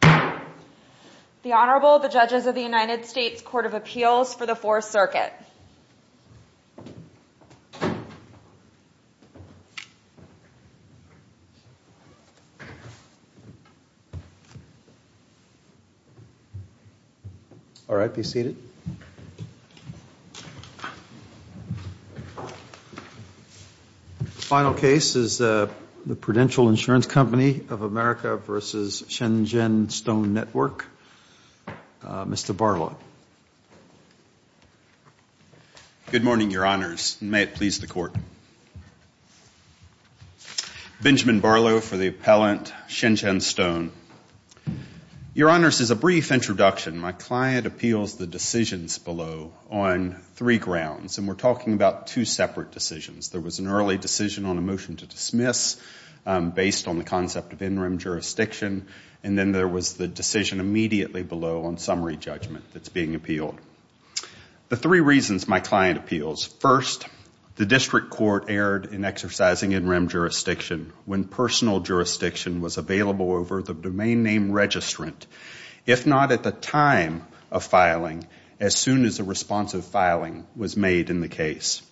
The Honorable, the Judges of the United States Court of Appeals for the Fourth Circuit. All right, be seated. The final case is the Prudential Insurance Company of America v. Shenzhen Stone Network. Mr. Barlow. Good morning, Your Honors, and may it please the Court. Benjamin Barlow for the appellant, Shenzhen Stone. Your Honors, as a brief introduction, my client appeals the decisions below on three grounds. And we're talking about two separate decisions. There was an early decision on a motion to dismiss based on the concept of in-rim jurisdiction. And then there was the decision immediately below on summary judgment that's being appealed. The three reasons my client appeals. First, the district court erred in exercising in-rim jurisdiction when personal jurisdiction was available over the board. The domain name registrant, if not at the time of filing, as soon as a responsive filing was made in the case.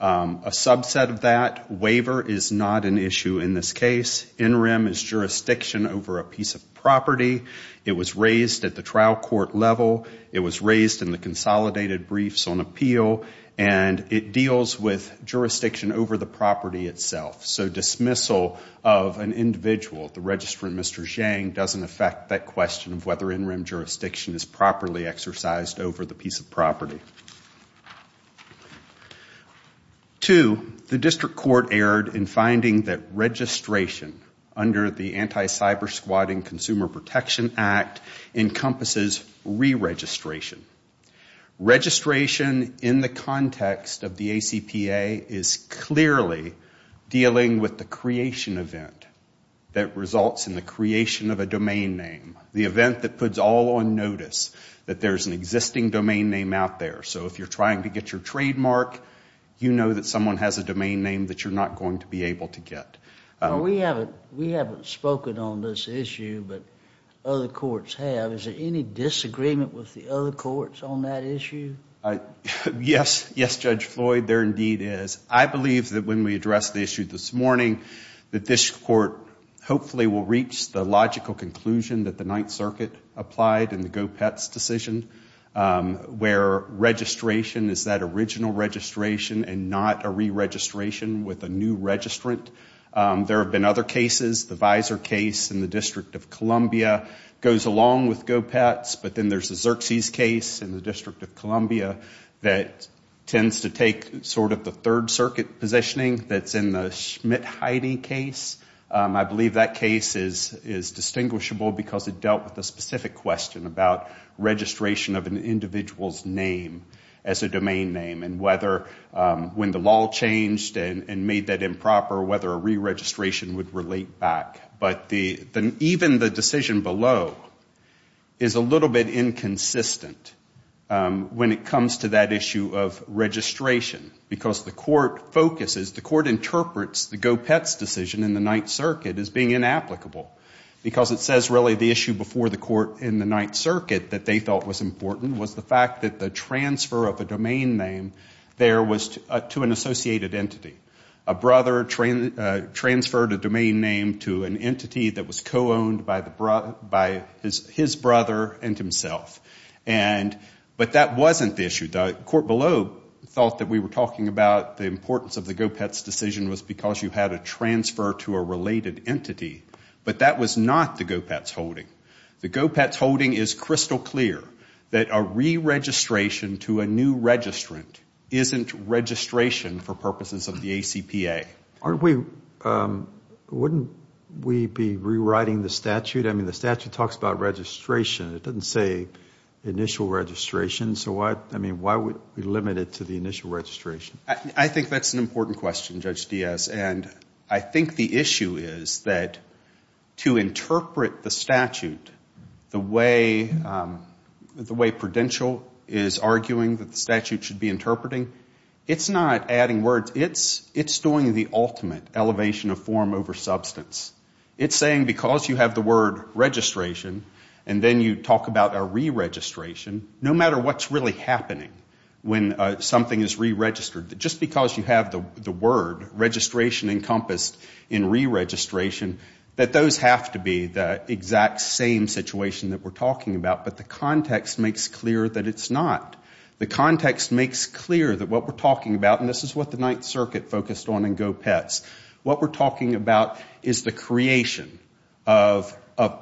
A subset of that, waiver is not an issue in this case. In-rim is jurisdiction over a piece of property. It was raised at the trial court level. It was raised in the consolidated briefs on appeal. And it deals with jurisdiction over the property itself. So dismissal of an individual, the registrant, Mr. Zhang, doesn't affect that question of whether in-rim jurisdiction is properly exercised over the piece of property. Two, the district court erred in finding that registration under the Anti-Cyber-Squatting Consumer Protection Act encompasses re-registration. Registration in the context of the ACPA is clearly dealing with the fact that it's dealing with the creation event that results in the creation of a domain name. The event that puts all on notice that there's an existing domain name out there. So if you're trying to get your trademark, you know that someone has a domain name that you're not going to be able to get. We haven't spoken on this issue, but other courts have. Is there any disagreement with the other courts on that issue? Yes, Judge Floyd, there indeed is. I believe that when we address the issue this morning, that this court hopefully will reach the logical conclusion that the Ninth Circuit applied in the Gopetz decision. Where registration is that original registration and not a re-registration with a new registrant. There have been other cases. The Visor case in the District of Columbia goes along with Gopetz. But then there's the Xerxes case in the District of Columbia that tends to take sort of the Third Circuit positioning that's in the Schmidt-Heide case. I believe that case is distinguishable because it dealt with the specific question about registration of an individual's name as a domain name. And whether when the law changed and made that improper, whether a re-registration would relate back. But even the decision below is a little bit inconsistent when it comes to that issue of registration. Because the court focuses, the court interprets the Gopetz decision in the Ninth Circuit as being inapplicable. Because it says really the issue before the court in the Ninth Circuit that they felt was important was the fact that the transfer of a domain name there was to an associated entity. A brother transferred a domain name to an entity that was co-owned by his brother and himself. But that wasn't the issue. The court below thought that we were talking about the importance of the Gopetz decision was because you had a transfer to a related entity. But that was not the Gopetz holding. The Gopetz holding is crystal clear that a re-registration to a new registrant isn't registration for purposes of the agency. It's registration for purposes of the ACPA. Aren't we, wouldn't we be rewriting the statute? I mean, the statute talks about registration. It doesn't say initial registration. So why, I mean, why would we limit it to the initial registration? I think that's an important question, Judge Diaz. And I think the issue is that to interpret the statute the way Prudential is arguing that the statute should be interpreting, it's not adding words. It's doing the ultimate elevation of form over substance. It's saying because you have the word registration and then you talk about a re-registration, no matter what's really happening when something is re-registered, just because you have the word registration encompassed in re-registration, that those have to be the exact same situation that we're talking about. But the context makes clear that it's not. The context makes clear that what we're talking about, and this is what the Ninth Circuit focused on in GO-PETS, what we're talking about is the creation of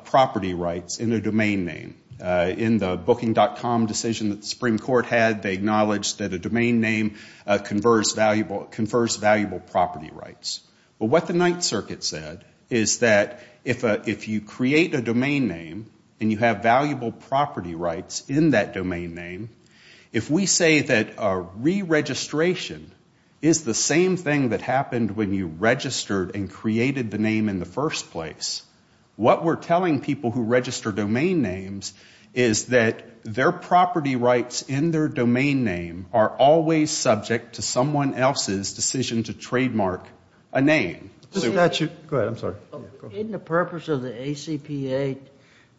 property rights in a domain name. In the Booking.com decision that the Supreme Court had, they acknowledged that a domain name confers valuable property rights. But what the Ninth Circuit said is that if you create a domain name and you have valuable property rights in that domain name, if we say that a re-registration is the same thing that happened when you registered and created the name in the first place, what we're telling people who register domain names is that their property rights in their domain name are always subject to someone else's decision to trademark a name. Isn't the purpose of the ACPA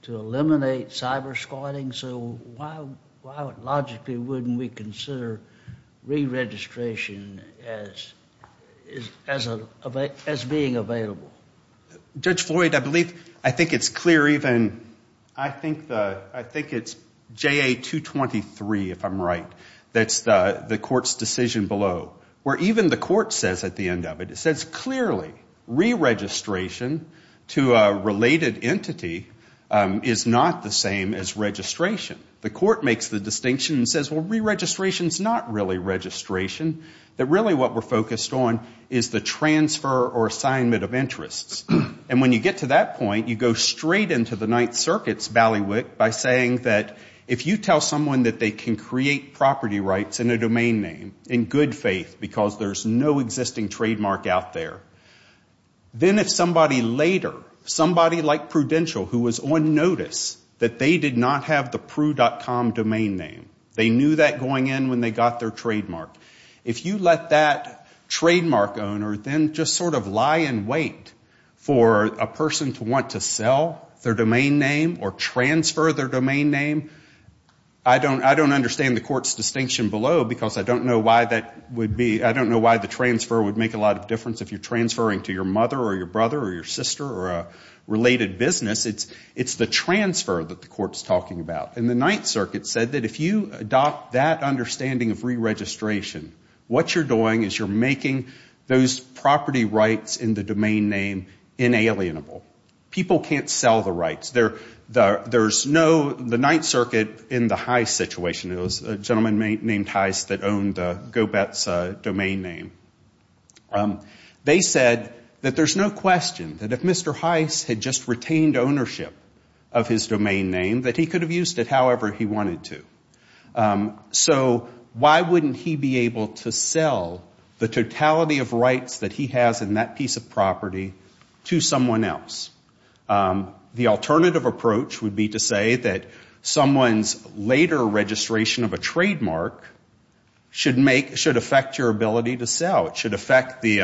to eliminate cyber squatting? And so why logically wouldn't we consider re-registration as being available? Judge Floyd, I believe, I think it's clear even, I think it's JA-223, if I'm right, that's the court's decision below. Where even the court says at the end of it, it says clearly re-registration to a related entity is not the same as registration. The court makes the distinction and says, well, re-registration's not really registration. That really what we're focused on is the transfer or assignment of interests. And when you get to that point, you go straight into the Ninth Circuit's ballywick by saying that if you tell someone that they can create property rights in a domain name in good faith because there's no existing trademark out there, then if somebody later, somebody like Prudential who was on notice that they did not have the property rights, they had a crew.com domain name, they knew that going in when they got their trademark. If you let that trademark owner then just sort of lie in wait for a person to want to sell their domain name or transfer their domain name, I don't understand the court's distinction below because I don't know why that would be, I don't know why the transfer would make a lot of difference if you're transferring to your mother or your brother or your sister or a related business. It's the transfer that the court's talking about. And the Ninth Circuit said that if you adopt that understanding of re-registration, what you're doing is you're making those property rights in the domain name inalienable. People can't sell the rights. There's no, the Ninth Circuit in the Heist situation, there was a gentleman named Heist that owned GoBets domain name. They said that there's no question that if Mr. Heist had just retained ownership of his domain name, that he could have used it however he wanted to. So why wouldn't he be able to sell the totality of rights that he has in that piece of property to someone else? The alternative approach would be to say that someone's later registration of a trademark should make, should affect your ability to sell, it should affect the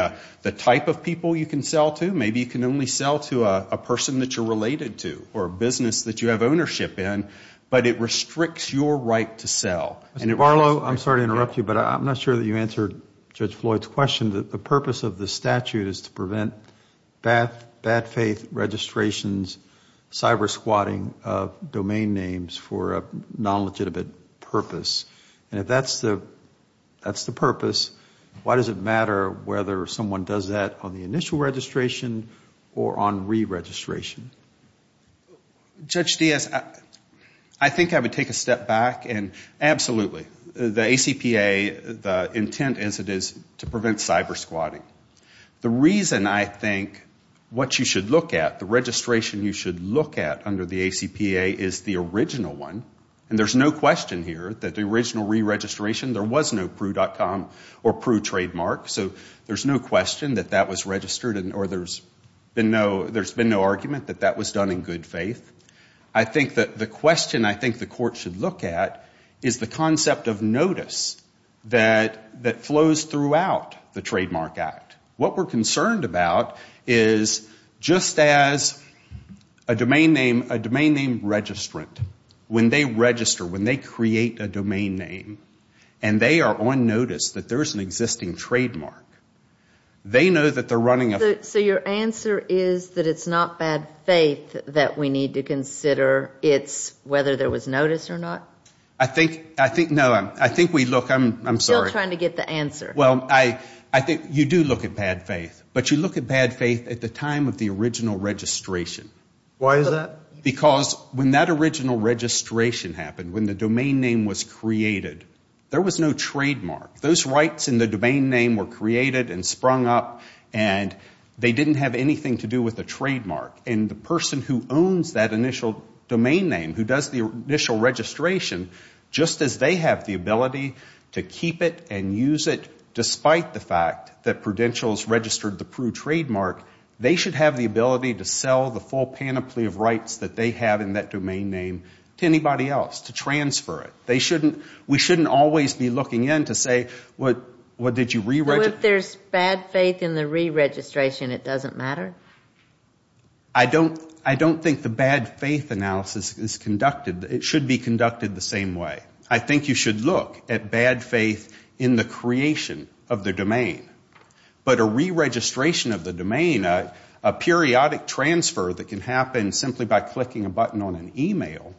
type of people you can sell to. Maybe you can only sell to a person that you're related to or a business that you have ownership in, but it restricts your right to sell. Mr. Barlow, I'm sorry to interrupt you, but I'm not sure that you answered Judge Floyd's question. The purpose of the statute is to prevent bad faith registrations, cyber squatting of domain names for a non-legitimate purpose. And if that's the purpose, why does it matter whether someone does that on the initial registration or on re-registration? Judge Diaz, I think I would take a step back and absolutely. The ACPA, the intent is to prevent cyber squatting. The reason I think what you should look at, the registration you should look at under the ACPA is the original one. And there's no question here that the original re-registration, there was no pru.com or pru trademark. So there's no question that that was registered or there's been no argument that that was done in good faith. I think that the question I think the court should look at is the concept of notice that flows throughout the Trademark Act. What we're concerned about is just as a domain name registrant, when they register, when they create a domain name, and they are on notice that there's an existing trademark, they know that they're running a. So your answer is that it's not bad faith that we need to consider, it's whether there was notice or not? I think, no, I think we look, I'm sorry. I'm just trying to get the answer. Well, I think you do look at bad faith, but you look at bad faith at the time of the original registration. Why is that? Because when that original registration happened, when the domain name was created, there was no trademark. Those rights in the domain name were created and sprung up and they didn't have anything to do with a trademark. And the person who owns that initial domain name, who does the initial registration, just as they have the ability to keep it and use it despite the fact that Prudential's registered the Prü trademark, they should have the ability to sell the full panoply of rights that they have in that domain name to anybody else, to transfer it. We shouldn't always be looking in to say, well, did you reregister? I don't think the bad faith analysis is conducted, it should be conducted the same way. I think you should look at bad faith in the creation of the domain. But a reregistration of the domain, a periodic transfer that can happen simply by clicking a button on an email,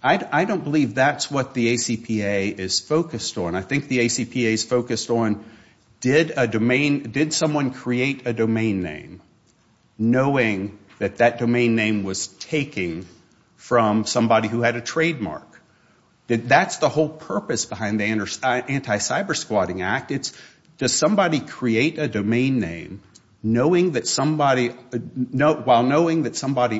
I don't believe that's what the ACPA is focused on. I think the ACPA is focused on, did someone create a domain name knowing that that domain name was taken from somebody who had a trademark? That's the whole purpose behind the Anti-Cybersquatting Act. It's does somebody create a domain name while knowing that somebody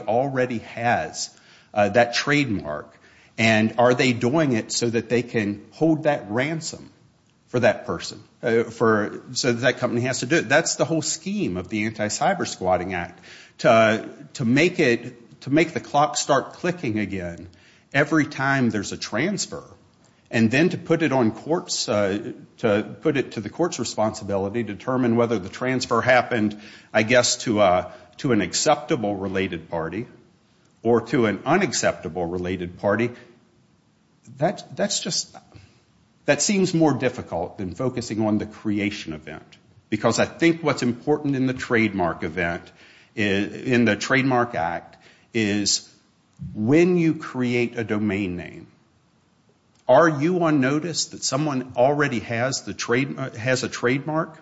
already has that trademark and are they doing it so that they can hold that ransom for that person, so that company has to do it. That's the whole scheme of the Anti-Cybersquatting Act, to make the clock start clicking again every time there's a transfer and then to put it to the court's responsibility to determine whether the transfer happened, I guess, to an acceptable related party or to an unacceptable related party. That seems more difficult than focusing on the creation event. Because I think what's important in the trademark act is when you create a domain name, are you on notice that someone already has a trademark?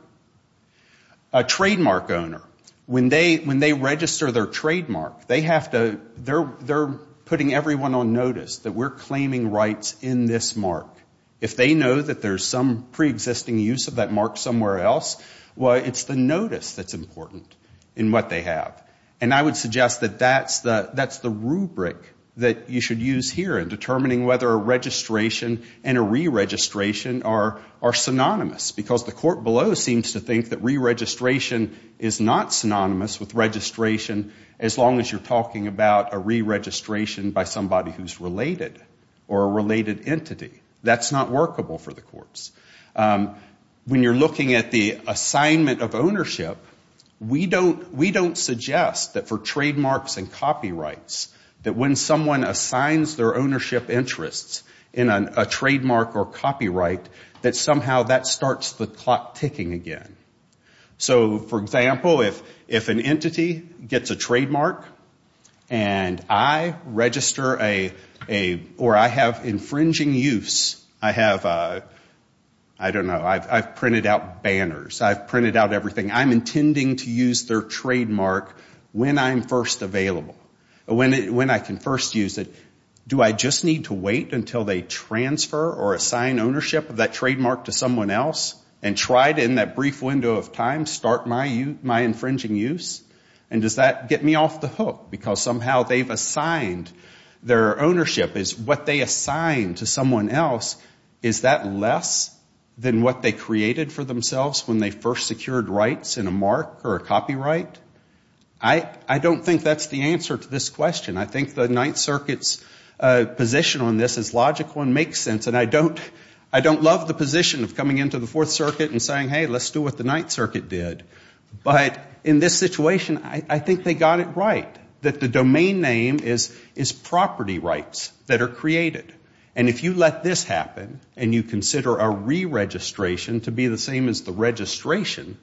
A trademark owner, when they register their trademark, they're putting everyone on notice that we're claiming rights in this mark. If they know that there's some preexisting use of that mark somewhere else, it's the notice that's important in what they have. And I would suggest that that's the rubric that you should use here in determining whether a registration and a re-registration are synonymous. Because the court below seems to think that re-registration is not synonymous with registration, as long as you're talking about a re-registration by somebody who's related or a related entity. That's not workable for the courts. When you're looking at the assignment of ownership, we don't suggest that for trademarks and copyrights, that when someone assigns their ownership interests in a trademark or copyright, that somehow that starts the clock ticking again. So, for example, if an entity gets a trademark and I register a, or I have infringing use, I have, I don't know, I've printed out banners, I've printed out everything. I'm intending to use their trademark when I'm first available, when I can first use it. Do I just need to wait until they transfer or assign ownership of that trademark to someone else and try to, in that brief window of time, start my infringing use? And does that get me off the hook? Because somehow they've assigned, their ownership is what they assigned to someone else. Is that less than what they created for themselves when they first secured rights in a mark or a copyright? I don't think that's the answer to this question. I think the Ninth Circuit's position on this is logical and makes sense. And I don't love the position of coming into the Fourth Circuit and saying, hey, let's do what the Ninth Circuit did. But in this situation, I think they got it right, that the domain name is property rights that are created. And if you let this happen and you consider a re-registration to be the same as the registration,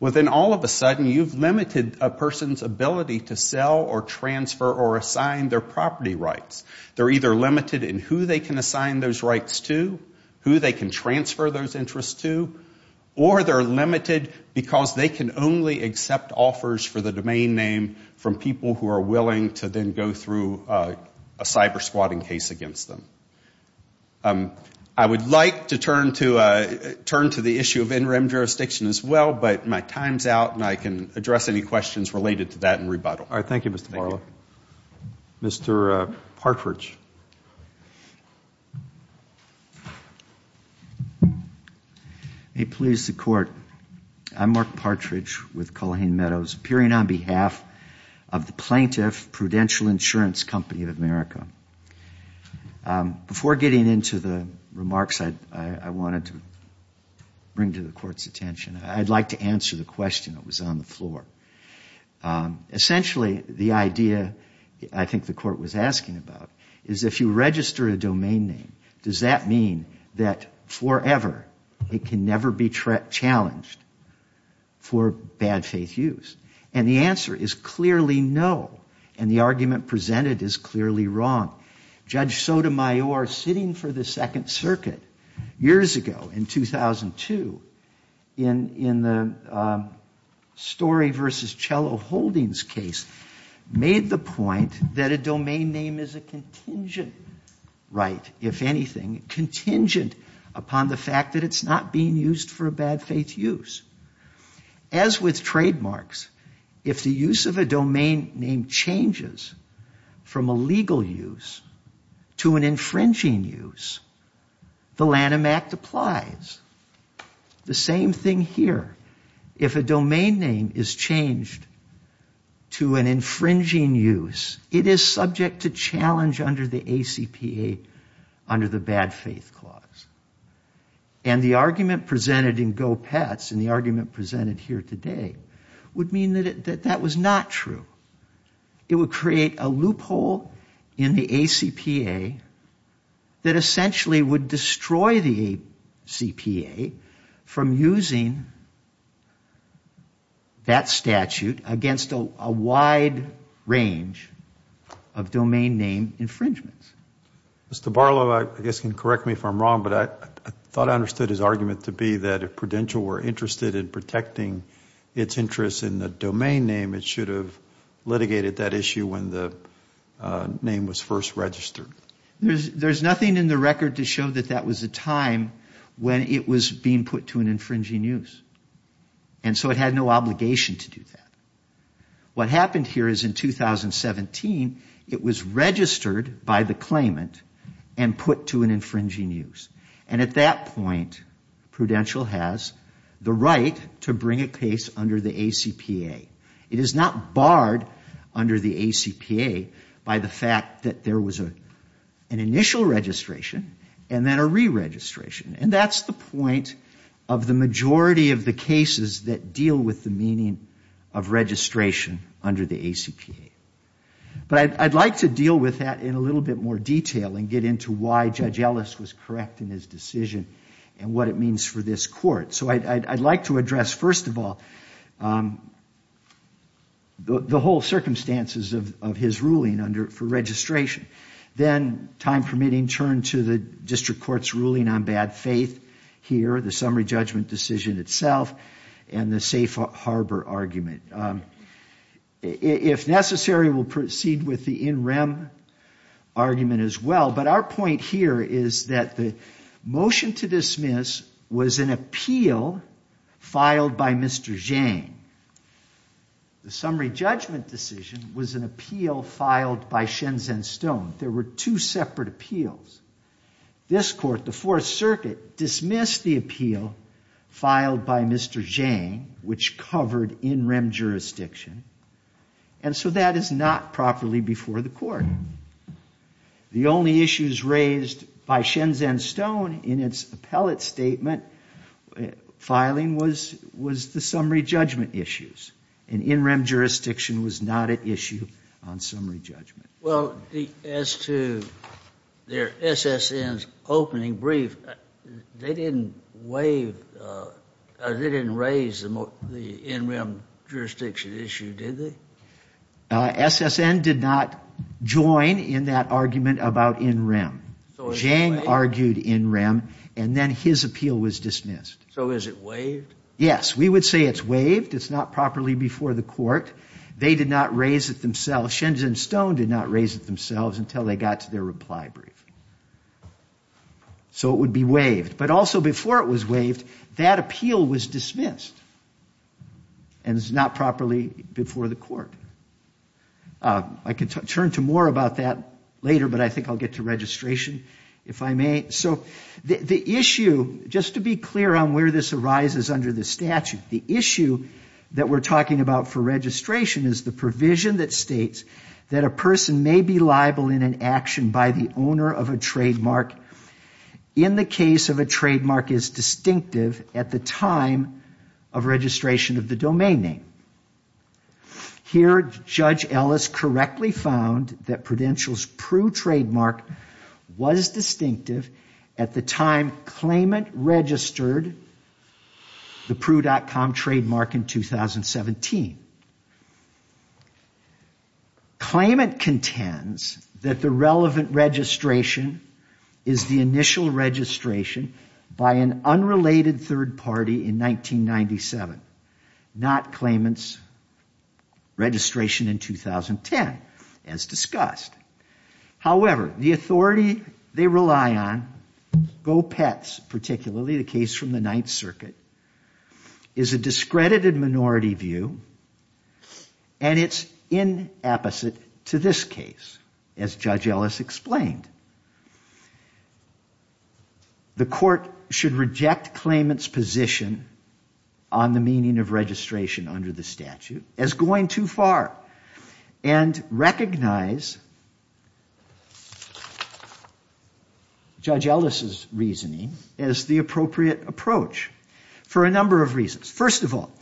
well, then all of a sudden you've limited a person's ability to sell or transfer or assign their property rights. They're either limited in who they can assign those rights to, who they can transfer those interests to, or they're limited because they can only accept offers for the domain name from people who are willing to then go through a cyber-squatting case against them. I would like to turn to the issue of interim jurisdiction as well, but my time's out and I can address any questions related to that in rebuttal. All right. Thank you, Mr. Marlow. Mr. Partridge. May it please the Court, I'm Mark Partridge with Culhane Meadows, appearing on behalf of the plaintiff Prudential Insurance Company of America. Before getting into the remarks I wanted to bring to the Court's attention, I'd like to answer the question that was on the floor. Essentially, the idea I think the Court was asking about is if you register a domain name, does that mean that forever it can never be challenged for bad faith use? And the answer is clearly no, and the argument presented is clearly wrong. Judge Sotomayor, sitting for the Second Circuit years ago in 2002, in the Story v. Cello Holdings case, made the point that a domain name is a contingent right, if anything, contingent upon the fact that it's not being used for bad faith use. As with trademarks, if the use of a domain name changes from a legal use to an infringing use, the Lanham Act applies. The same thing here. If a domain name is changed to an infringing use, it is subject to challenge under the ACPA, under the bad faith clause. And the argument presented in Go Pets, and the argument presented here today, would mean that that was not true. It would create a loophole in the ACPA that essentially would destroy the ACPA from using that statute against a wide range of domain name infringements. Mr. Barlow, I guess you can correct me if I'm wrong, but I thought I understood his argument to be that if Prudential were interested in protecting its interest in the domain name, it should have litigated that issue when the name was first registered. There's nothing in the record to show that that was the time when it was being put to an infringing use. And so it had no obligation to do that. What happened here is in 2017, it was registered by the claimant and put to an infringing use. And at that point, Prudential has the right to bring a case under the ACPA. It is not barred under the ACPA by the fact that there was an initial registration and then a re-registration. And that's the point of the majority of the cases that deal with the meaning of registration. But I'd like to deal with that in a little bit more detail and get into why Judge Ellis was correct in his decision and what it means for this court. So I'd like to address, first of all, the whole circumstances of his ruling for registration. Then, time permitting, turn to the district court's ruling on bad faith here, the summary judgment decision itself, and the safe harbor argument. If necessary, we'll proceed with the in rem argument as well. But our point here is that the motion to dismiss was an appeal filed by Mr. Jane. The summary judgment decision was an appeal filed by Shenzen Stone. There were two separate appeals. This court, the Fourth Circuit, dismissed the appeal filed by Mr. Jane, which covered in rem jurisdiction, and so that is not properly before the court. The only issues raised by Shenzen Stone in its appellate statement filing was the summary judgment issues, and in rem jurisdiction was not at issue on summary judgment. Well, as to their SSN's opening brief, they didn't raise the in rem jurisdiction issue, did they? SSN did not join in that argument about in rem. Jane argued in rem, and then his appeal was dismissed. So is it waived? Yes. We would say it's waived. It's not properly before the court. They did not raise it themselves. Shenzen Stone did not raise it themselves until they got to their reply brief. So it would be waived, but also before it was waived, that appeal was dismissed, and it's not properly before the court. I can turn to more about that later, but I think I'll get to registration if I may. So the issue, just to be clear on where this arises under the statute, the issue that we're talking about for registration is the provision that states that a person may be liable in an action by the owner of a trademark in the case of a trademark is distinctive at the time of registration of the domain name. Here, Judge Ellis correctly found that Prudential's pru trademark was distinctive, at the time claimant registered the pru.com trademark in 2017. Claimant contends that the relevant registration is the initial registration by an unrelated third party in 1997, not claimant's registration in 2010, as discussed. However, the authority they rely on, GO-PETS particularly, the case from the Ninth Circuit, is a discredited minority view, and it's inapposite to this case, as Judge Ellis explained. The court should reject claimant's position on the meaning of registration under the statute as going too far, and recognize Judge Ellis' reasoning as the appropriate approach for a number of reasons. First of all,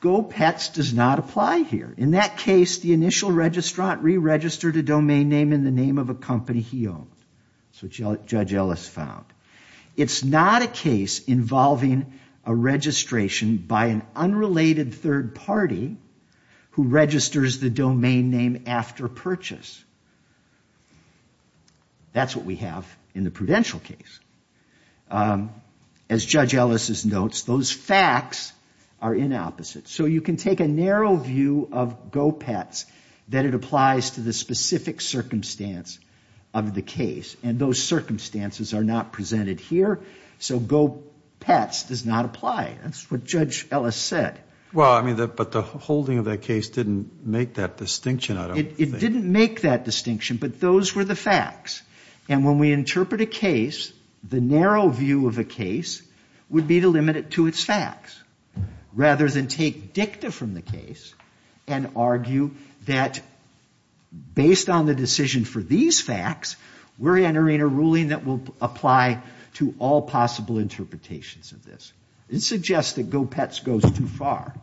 GO-PETS does not apply here. In that case, the initial registrant re-registered a domain name in the name of a company he owned. That's what Judge Ellis found. It's not a case involving a registration by an unrelated third party who registers the domain name after purchase. That's what we have in the Prudential case. As Judge Ellis notes, those facts are inopposite. So you can take a narrow view of GO-PETS that it applies to the specific circumstance of the case, and those circumstances are not presented here, so GO-PETS does not apply. That's what Judge Ellis said. Well, I mean, but the holding of that case didn't make that distinction, I don't think. It didn't make that distinction, but those were the facts. And when we interpret a case, the narrow view of a case would be to limit it to its facts, rather than take dicta from the case and argue that based on the decision for these facts, we're entering a ruling that will apply to all possible interpretations of this. It suggests that GO-PETS goes too far.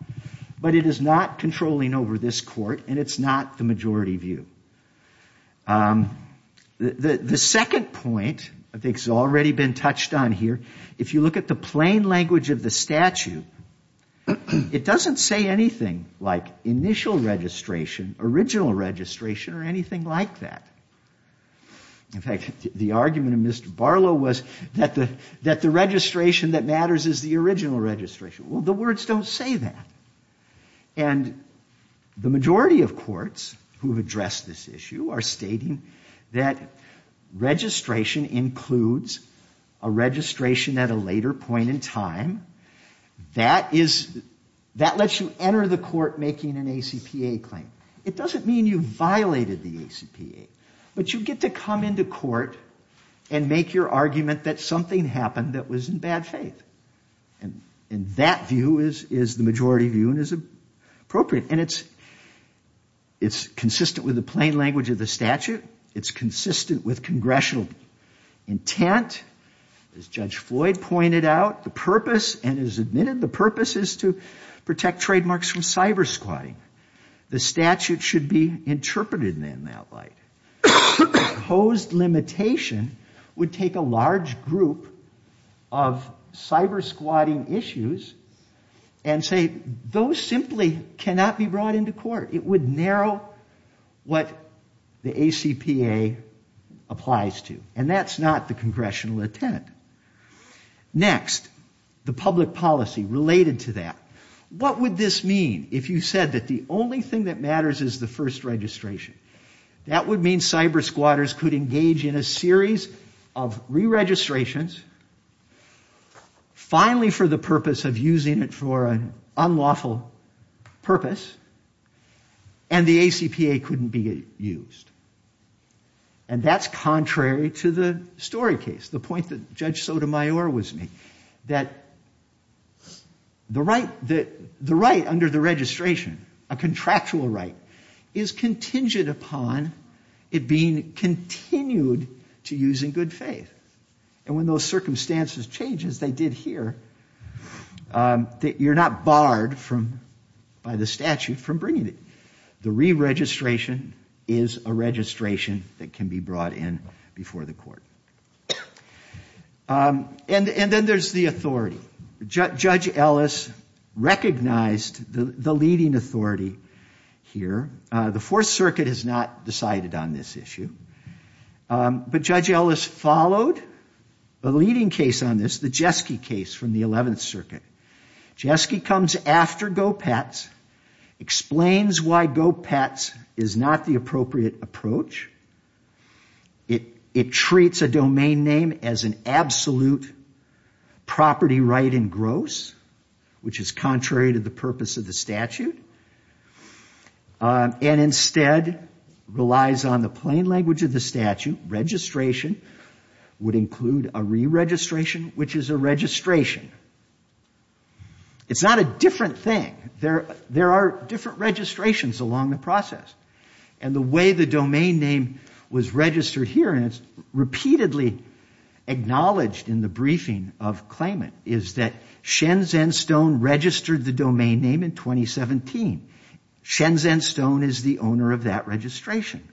But it is not controlling over this Court, and it's not the majority view. The second point I think has already been touched on here, if you look at the plain language of the statute, it doesn't say anything like initial registration, original registration, or anything like that. In fact, the argument of Mr. Barlow was that the registration that matters is the original registration. Well, the words don't say that. And the majority of courts who have addressed this issue are stating that registration includes a registration at a later point in time. That lets you enter the court making an ACPA claim. It doesn't mean you violated the ACPA, but you get to come into court and make your argument that something happened that was in bad faith. And that view is the majority view and is appropriate. And it's consistent with the plain language of the statute. It's consistent with congressional intent. As Judge Floyd pointed out, the purpose, and is admitted, the purpose is to protect trademarks from cyber-squatting. The statute should be interpreted in that light. Opposed limitation would take a large group of cyber-squatting issues and say those simply cannot be brought into court. It would narrow what the ACPA applies to. And that's not the congressional intent. Next, the public policy related to that. What would this mean if you said that the only thing that matters is the first registration? That would mean cyber-squatters could engage in a series of re-registrations, finally for the purpose of using it for an unlawful purpose, and the ACPA couldn't be used. And that's contrary to the story case, the point that Judge Sotomayor was making, that the right under the registration, a contractual right, is contingent upon it being continued to use in good faith. And when those circumstances change, as they did here, you're not barred by the statute from bringing it. The re-registration is a registration that can be brought in before the court. And then there's the authority. Judge Ellis recognized the leading authority here. The Fourth Circuit has not decided on this issue. But Judge Ellis followed a leading case on this, the Jeske case from the Eleventh Circuit. Jeske comes after Gopetz, explains why Gopetz is not the appropriate approach. It treats a domain name as an absolute property right in gross, which is contrary to the purpose of the statute. And instead relies on the plain language of the statute. Registration would include a re-registration, which is a registration. It's not a different thing. There are different registrations along the process. And the way the domain name was registered here, and it's repeatedly acknowledged in the briefing of claimant, is that Shenzhen Stone registered the domain name in 2017. Shenzhen Stone is the owner of that registration.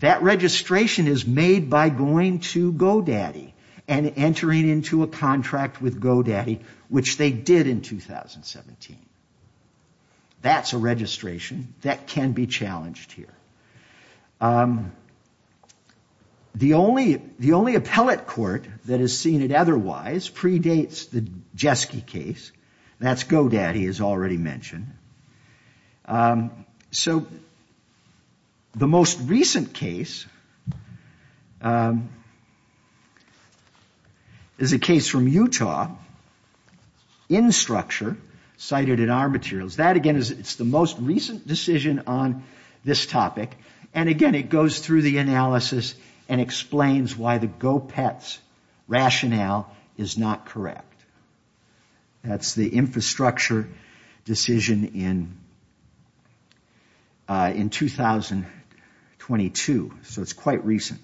That registration is made by going to GoDaddy and entering into a contract with GoDaddy, which they did in 2017. That's a registration that can be challenged here. The only appellate court that has seen it otherwise predates the Jeske case. That's GoDaddy, as already mentioned. So the most recent case is a case from Utah, in structure, cited in our materials. That, again, is the most recent decision on this topic. And again, it goes through the analysis and explains why the GO-PETS rationale is not correct. That's the infrastructure decision in 2022. So it's quite recent.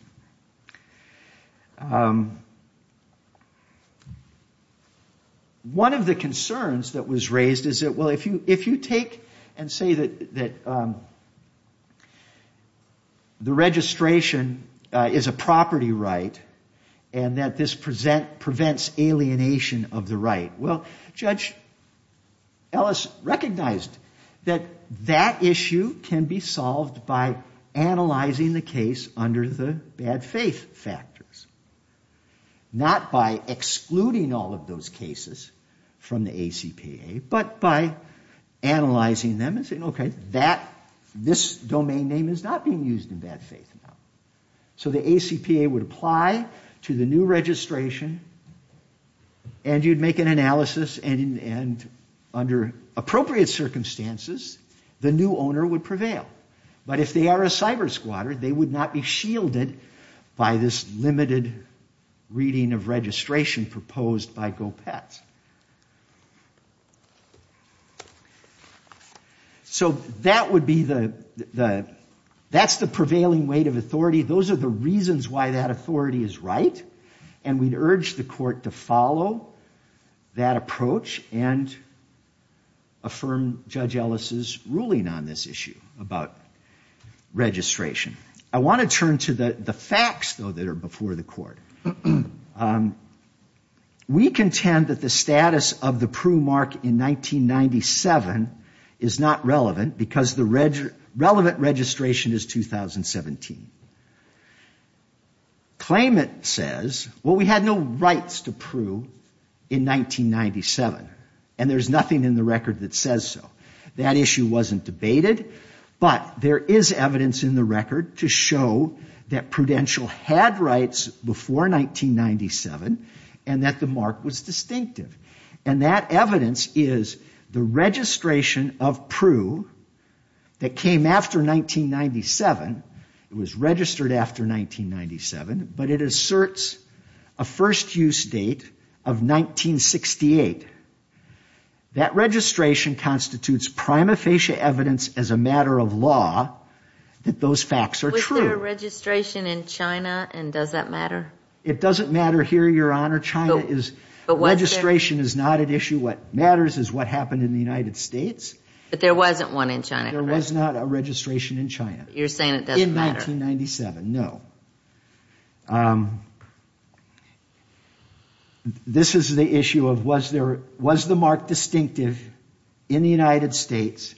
One of the concerns that was raised is that, well, if you take and say that the registration is a property right, and that this prevents alienation of the right, well, Judge Ellis recognized that that issue can be solved by analyzing the case under the basis of a bad faith factors, not by excluding all of those cases from the ACPA, but by analyzing them and saying, okay, this domain name is not being used in bad faith now. So the ACPA would apply to the new registration, and you'd make an analysis, and under appropriate circumstances, the new owner would prevail. But if they are a cyber-squatter, they would not be shielded by this limited reading of registration proposed by GO-PETS. So that's the prevailing weight of authority. Those are the reasons why that authority is right, and we'd urge the Court to follow that approach and affirm Judge Ellis' ruling on this issue about it. I want to turn to the facts, though, that are before the Court. We contend that the status of the Prue mark in 1997 is not relevant, because the relevant registration is 2017. Claimant says, well, we had no rights to Prue in 1997, and there's nothing in the record that says so. That issue wasn't debated, but there is evidence in the record to show that Prudential had rights before 1997, and that the mark was distinctive. And that evidence is the registration of Prue that came after 1997, it was registered after 1997, but it asserts a first-use date of 1968. That registration constitutes prima facie evidence as a matter of law that those facts are true. Was there a registration in China, and does that matter? It doesn't matter here, Your Honor. China's registration is not at issue. What matters is what happened in the United States. But there wasn't one in China, correct? There was not a registration in China. You're saying it doesn't matter. In 1997, no. This is the issue of was the mark distinctive in the United States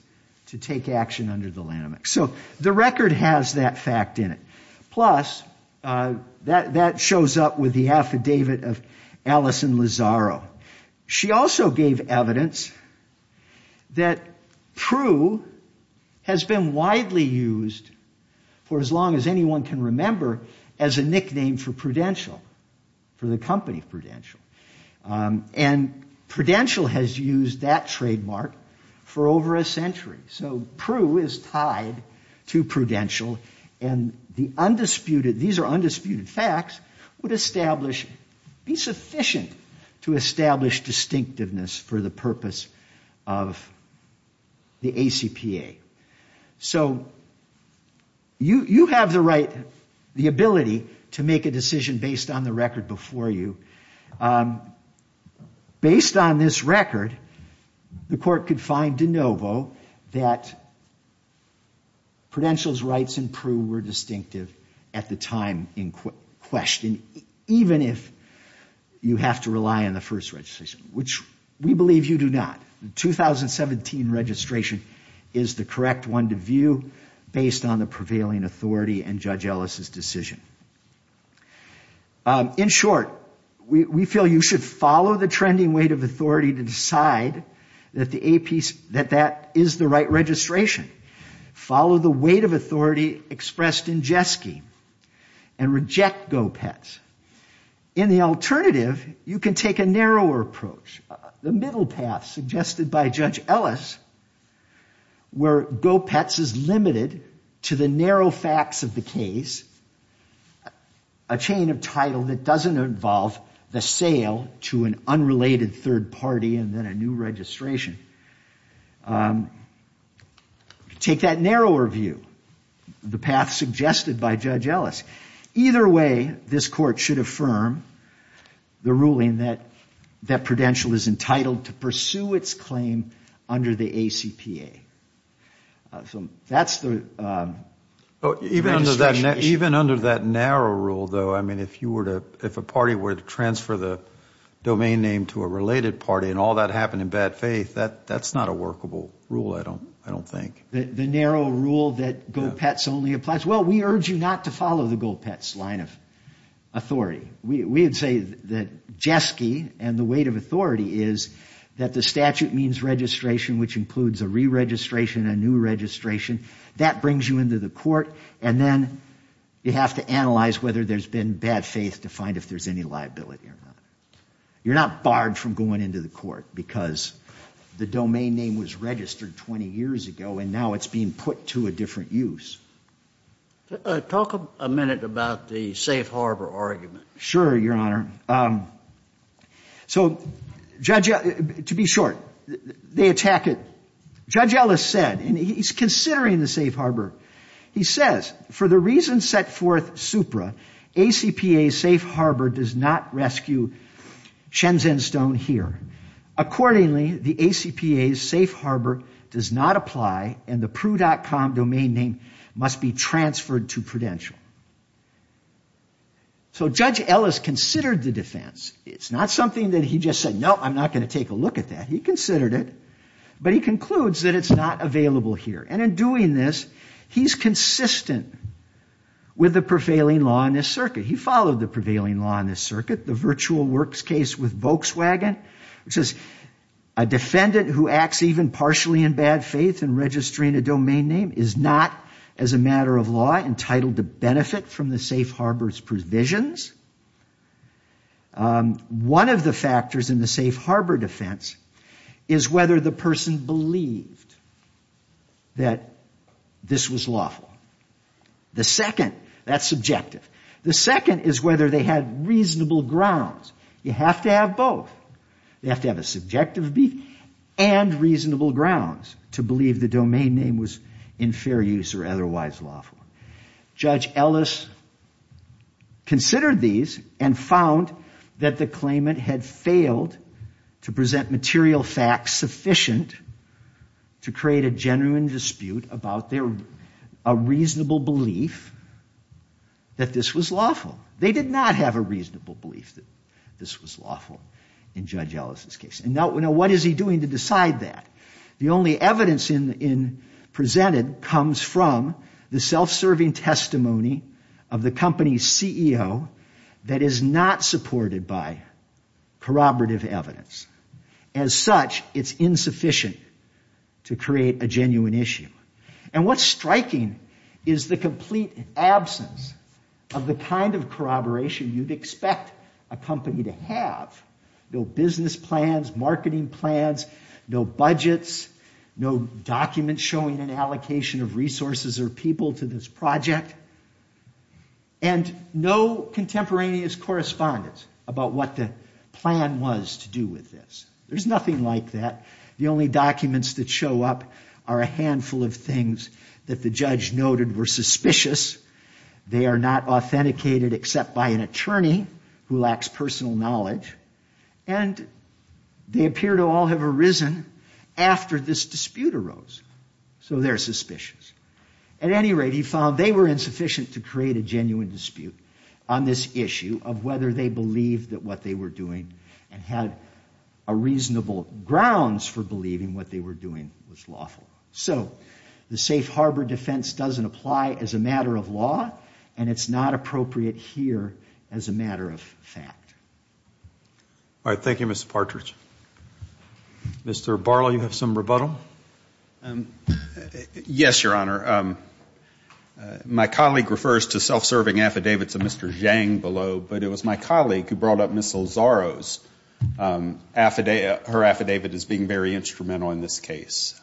to take action under the Lanham Act. So the record has that fact in it. Plus, that shows up with the affidavit of Allison Lazzaro. She also gave evidence that Prue has been widely used in the U.S. and around the world. For as long as anyone can remember as a nickname for Prudential, for the company Prudential. And Prudential has used that trademark for over a century. So Prue is tied to Prudential, and these are undisputed facts would be sufficient to establish distinctiveness for the purpose of the ACPA. So you have the right, the ability to make a decision based on the record before you. Based on this record, the court could find de novo that Prudential's rights in Prue were distinctive at the time in question, even if you have to rely on the first registration, which we believe you do not. The 2017 registration is the correct one to view based on the prevailing authority and Judge Ellis' decision. In short, we feel you should follow the trending weight of authority to decide that that is the right registration. Follow the weight of authority expressed in Jeske, and reject GoPets. In the alternative, you can take a narrower approach, the middle path suggested by Judge Ellis, where GoPets is limited to the narrow facts of the case, a chain of title that doesn't involve the sale to an unrelated third party and then a new registration. Take that narrower view, the path suggested by Judge Ellis. Either way, this court should affirm the ruling that Prudential is entitled to pursue its claim under the ACPA. Even under that narrow rule, though, if a party were to transfer the domain name to a related party and all that happened in bad faith, that's not a workable rule, I don't think. The narrow rule that GoPets only applies, well, we urge you not to follow the GoPets line of authority. We would say that Jeske and the weight of authority is that the statute means registration, which includes a re-registration, a new registration. That brings you into the court, and then you have to analyze whether there's been bad faith to find if there's any liability or not. You're not barred from going into the court because the domain name was registered 20 years ago, and now it's not. Now it's being put to a different use. Talk a minute about the safe harbor argument. Sure, Your Honor. To be short, they attack it. Judge Ellis said, and he's considering the safe harbor, he says, for the reason set forth supra, ACPA's safe harbor does not rescue Shenzhen Stone here. Accordingly, the ACPA's safe harbor does not apply, and the pru.com domain name must be transferred to Prudential. So Judge Ellis considered the defense, it's not something that he just said, no, I'm not going to take a look at that. He considered it, but he concludes that it's not available here, and in doing this, he's consistent with the prevailing law in this circuit. He followed the prevailing law in this circuit, the virtual works case with Volkswagen, which says a defendant who acts even partially in bad faith in registering a domain name is not, as a matter of law, entitled to benefit from the safe harbor's provisions. One of the factors in the safe harbor defense is whether the person believed that this was lawful. The second, that's subjective, the second is whether they had reasonable grounds. You have to have both. You have to have a subjective and reasonable grounds to believe the domain name was in fair use or otherwise lawful. Judge Ellis considered these and found that the claimant had failed to present material facts sufficient to create a genuine dispute about a reasonable basis. They did not have a reasonable belief that this was lawful. They did not have a reasonable belief that this was lawful in Judge Ellis' case. Now, what is he doing to decide that? The only evidence presented comes from the self-serving testimony of the company's CEO that is not supported by corroborative evidence. As such, it's insufficient to create a genuine issue. And what's striking is the complete absence of the kind of corroboration you'd expect a company to have. No business plans, marketing plans, no budgets, no documents showing an allocation of resources or people to this project, and no contemporaneous correspondence about what the plan was to do with this. There's nothing like that. The only documents that show up are a handful of things that the judge noted were suspicious, they are not authenticated except by an attorney who lacks personal knowledge, and they appear to all have arisen after this dispute arose, so they're suspicious. At any rate, he found they were insufficient to create a genuine dispute on this issue of whether they believed that what they were doing and had a reasonable basis. They had reasonable grounds for believing what they were doing was lawful. So the safe harbor defense doesn't apply as a matter of law, and it's not appropriate here as a matter of fact. Thank you, Mr. Partridge. Mr. Barlow, you have some rebuttal? Yes, Your Honor. I think her affidavit is being very instrumental in this case.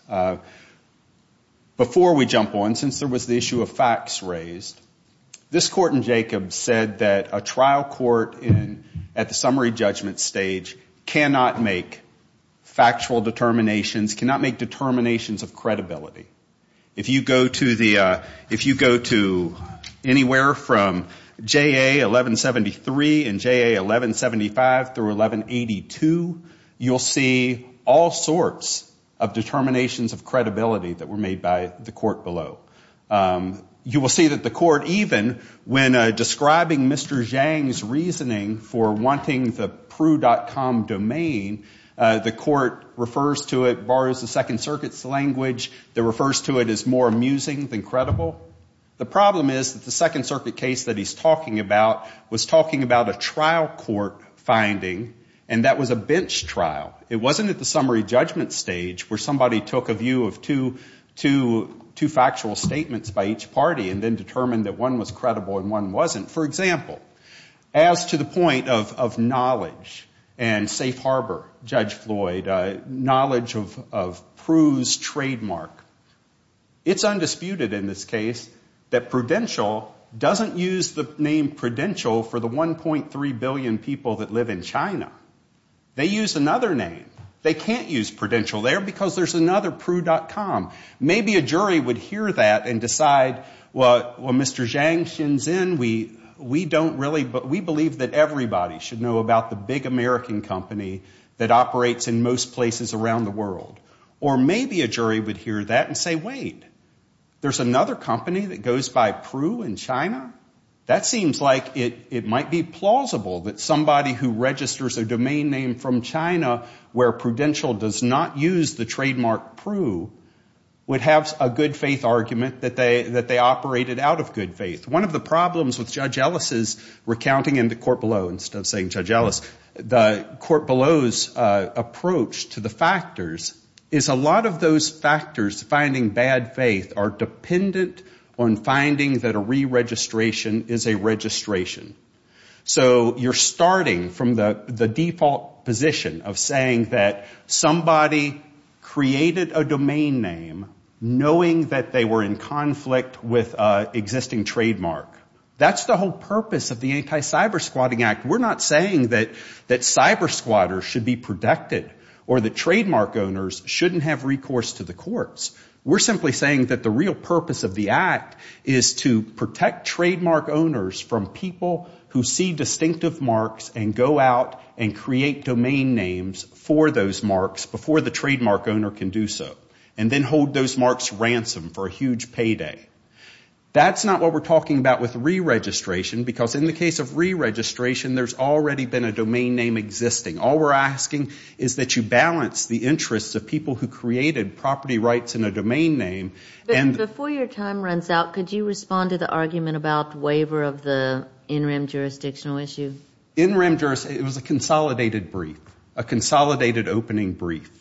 Before we jump on, since there was the issue of facts raised, this Court in Jacobs said that a trial court at the summary judgment stage cannot make factual determinations, cannot make determinations of credibility. If you go to anywhere from JA 1173 and JA 1175 through 1182, you'll see that there is no factual determination of credibility. You will see all sorts of determinations of credibility that were made by the Court below. You will see that the Court, even when describing Mr. Zhang's reasoning for wanting the pru.com domain, the Court refers to it, borrows the Second Circuit's language, that refers to it as more amusing than credible. The problem is that the Second Circuit case that he's talking about was talking about a trial court finding, and that was a bench trial. It wasn't at the summary judgment stage where somebody took a view of two factual statements by each party and then determined that one was credible and one wasn't. For example, as to the point of knowledge and safe harbor, Judge Floyd, knowledge of pru's trademark, it's undisputed in this case that Prudential doesn't use the name Prudential for the 1.3 billion people that live in China. They use another name. They can't use Prudential there because there's another pru.com. Maybe a jury would hear that and decide, well, Mr. Zhang, Xin Xin, we believe that everybody should know about the big American company that operates in most places around the world. Or maybe a jury would hear that and say, wait, there's another company that goes by pru in China? That seems like it might be plausible that somebody who registers a domain name from China where Prudential does not use the trademark pru would have a good faith argument that they operated out of good faith. One of the problems with Judge Ellis' recounting in the court below, instead of saying Judge Ellis, the court below's approach to the factors is a lot of those factors, finding bad faith, are dependent on finding that a re-registration is a good thing. A re-registration is a registration. So you're starting from the default position of saying that somebody created a domain name knowing that they were in conflict with an existing trademark. That's the whole purpose of the Anti-Cyber Squatting Act. We're not saying that cyber squatters should be protected or that trademark owners shouldn't have recourse to the courts. We're simply saying that the real purpose of the act is to protect trademark owners from people who see distinctive marks and go out and create domain names for those marks before the trademark owner can do so. And then hold those marks ransom for a huge payday. That's not what we're talking about with re-registration because in the case of re-registration, there's already been a domain name existing. All we're asking is that you balance the interests of people who created property rights in a domain name. And before your time runs out, could you respond to the argument about waiver of the NREM jurisdictional issue? NREM, it was a consolidated brief, a consolidated opening brief.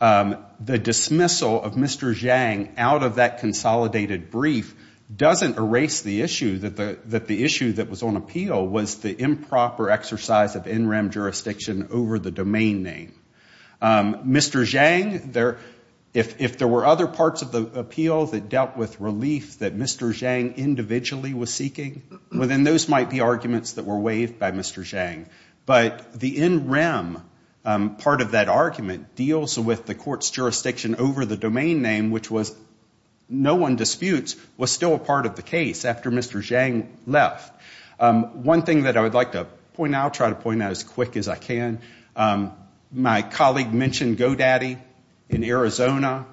The dismissal of Mr. Zhang out of that consolidated brief doesn't erase the issue that the issue that was on appeal was the improper exercise of NREM jurisdiction over the NREM jurisdiction. It was jurisdiction over the domain name. Mr. Zhang, if there were other parts of the appeal that dealt with relief that Mr. Zhang individually was seeking, well, then those might be arguments that were waived by Mr. Zhang. But the NREM part of that argument deals with the court's jurisdiction over the domain name, which no one disputes was still a part of the case after Mr. Zhang left. One thing that I would like to point out, try to point out as quick as I can, my colleague mentioned GoDaddy in Arizona.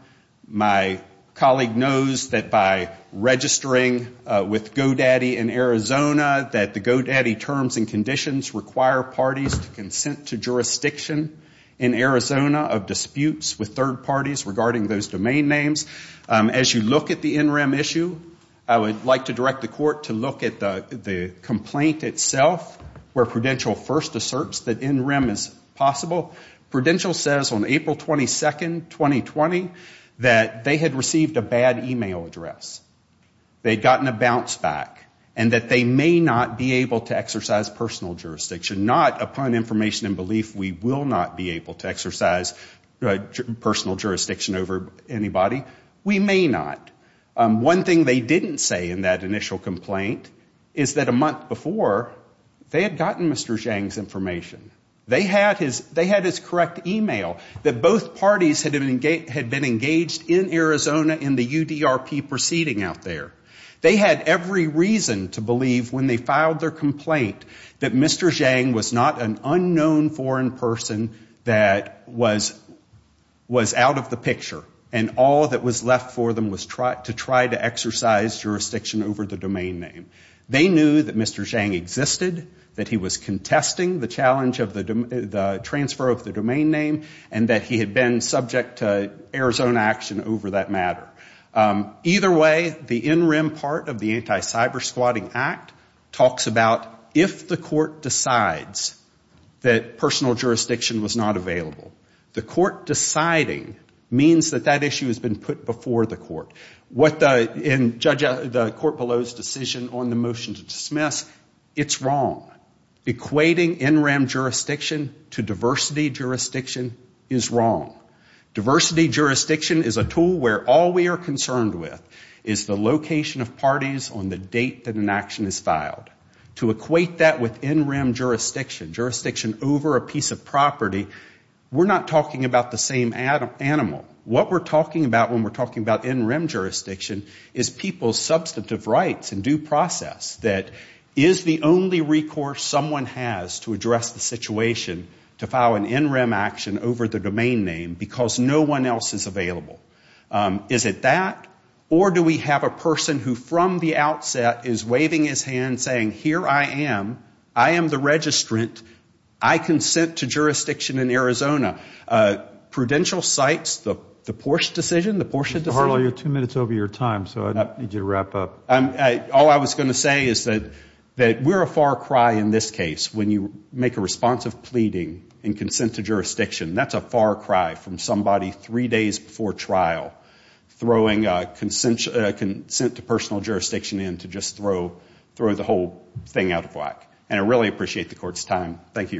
My colleague knows that by registering with GoDaddy in Arizona, that the GoDaddy terms and conditions require parties to consent to jurisdiction in Arizona of disputes with third parties regarding those domain names. As you look at the NREM issue, I would like to direct the court to look at the complaint itself where Prudential first asserts that NREM is possible. Prudential says on April 22, 2020, that they had received a bad e-mail address. They had gotten a bounce back and that they may not be able to exercise personal jurisdiction. Not upon information and belief we will not be able to exercise personal jurisdiction over anybody. We may not. One thing they didn't say in that initial complaint is that a month before, they had gotten Mr. Zhang's information. They had his correct e-mail that both parties had been engaged in Arizona in the UDRP proceeding out there. They had every reason to believe when they filed their complaint that Mr. Zhang was not an unknown foreign person that was out of the picture. And all that was left for them was to try to exercise jurisdiction over the domain name. They knew that Mr. Zhang existed, that he was contesting the transfer of the domain name, and that he had been subject to Arizona action over that matter. Either way, the NREM part of the Anti-Cybersquatting Act talks about if the court decides that personal jurisdiction was not available, the court deciding means that they are not eligible to exercise jurisdiction over the domain name. It means that that issue has been put before the court. In the court below's decision on the motion to dismiss, it's wrong. Equating NREM jurisdiction to diversity jurisdiction is wrong. Diversity jurisdiction is a tool where all we are concerned with is the location of parties on the date that an action is filed. To equate that with NREM jurisdiction, jurisdiction over a piece of property, we're not talking about the same animal. What we're talking about when we're talking about NREM jurisdiction is people's substantive rights and due process. That is the only recourse someone has to address the situation to file an NREM action over the domain name because no one else is available? Is it that, or do we have a person who from the outset is waving his hand saying, here I am, I am the registrant, I consent to jurisdiction in Arizona? Prudential sites, the Porsche decision, the Porsche decision? Mr. Harlow, you're two minutes over your time, so I need you to wrap up. All I was going to say is that we're a far cry in this case when you make a responsive pleading in consent to jurisdiction. That's a far cry from somebody three days before trial throwing consent to personal jurisdiction in to just throw the whole thing out of whack. And I really appreciate the court's time. Thank you, Your Honors.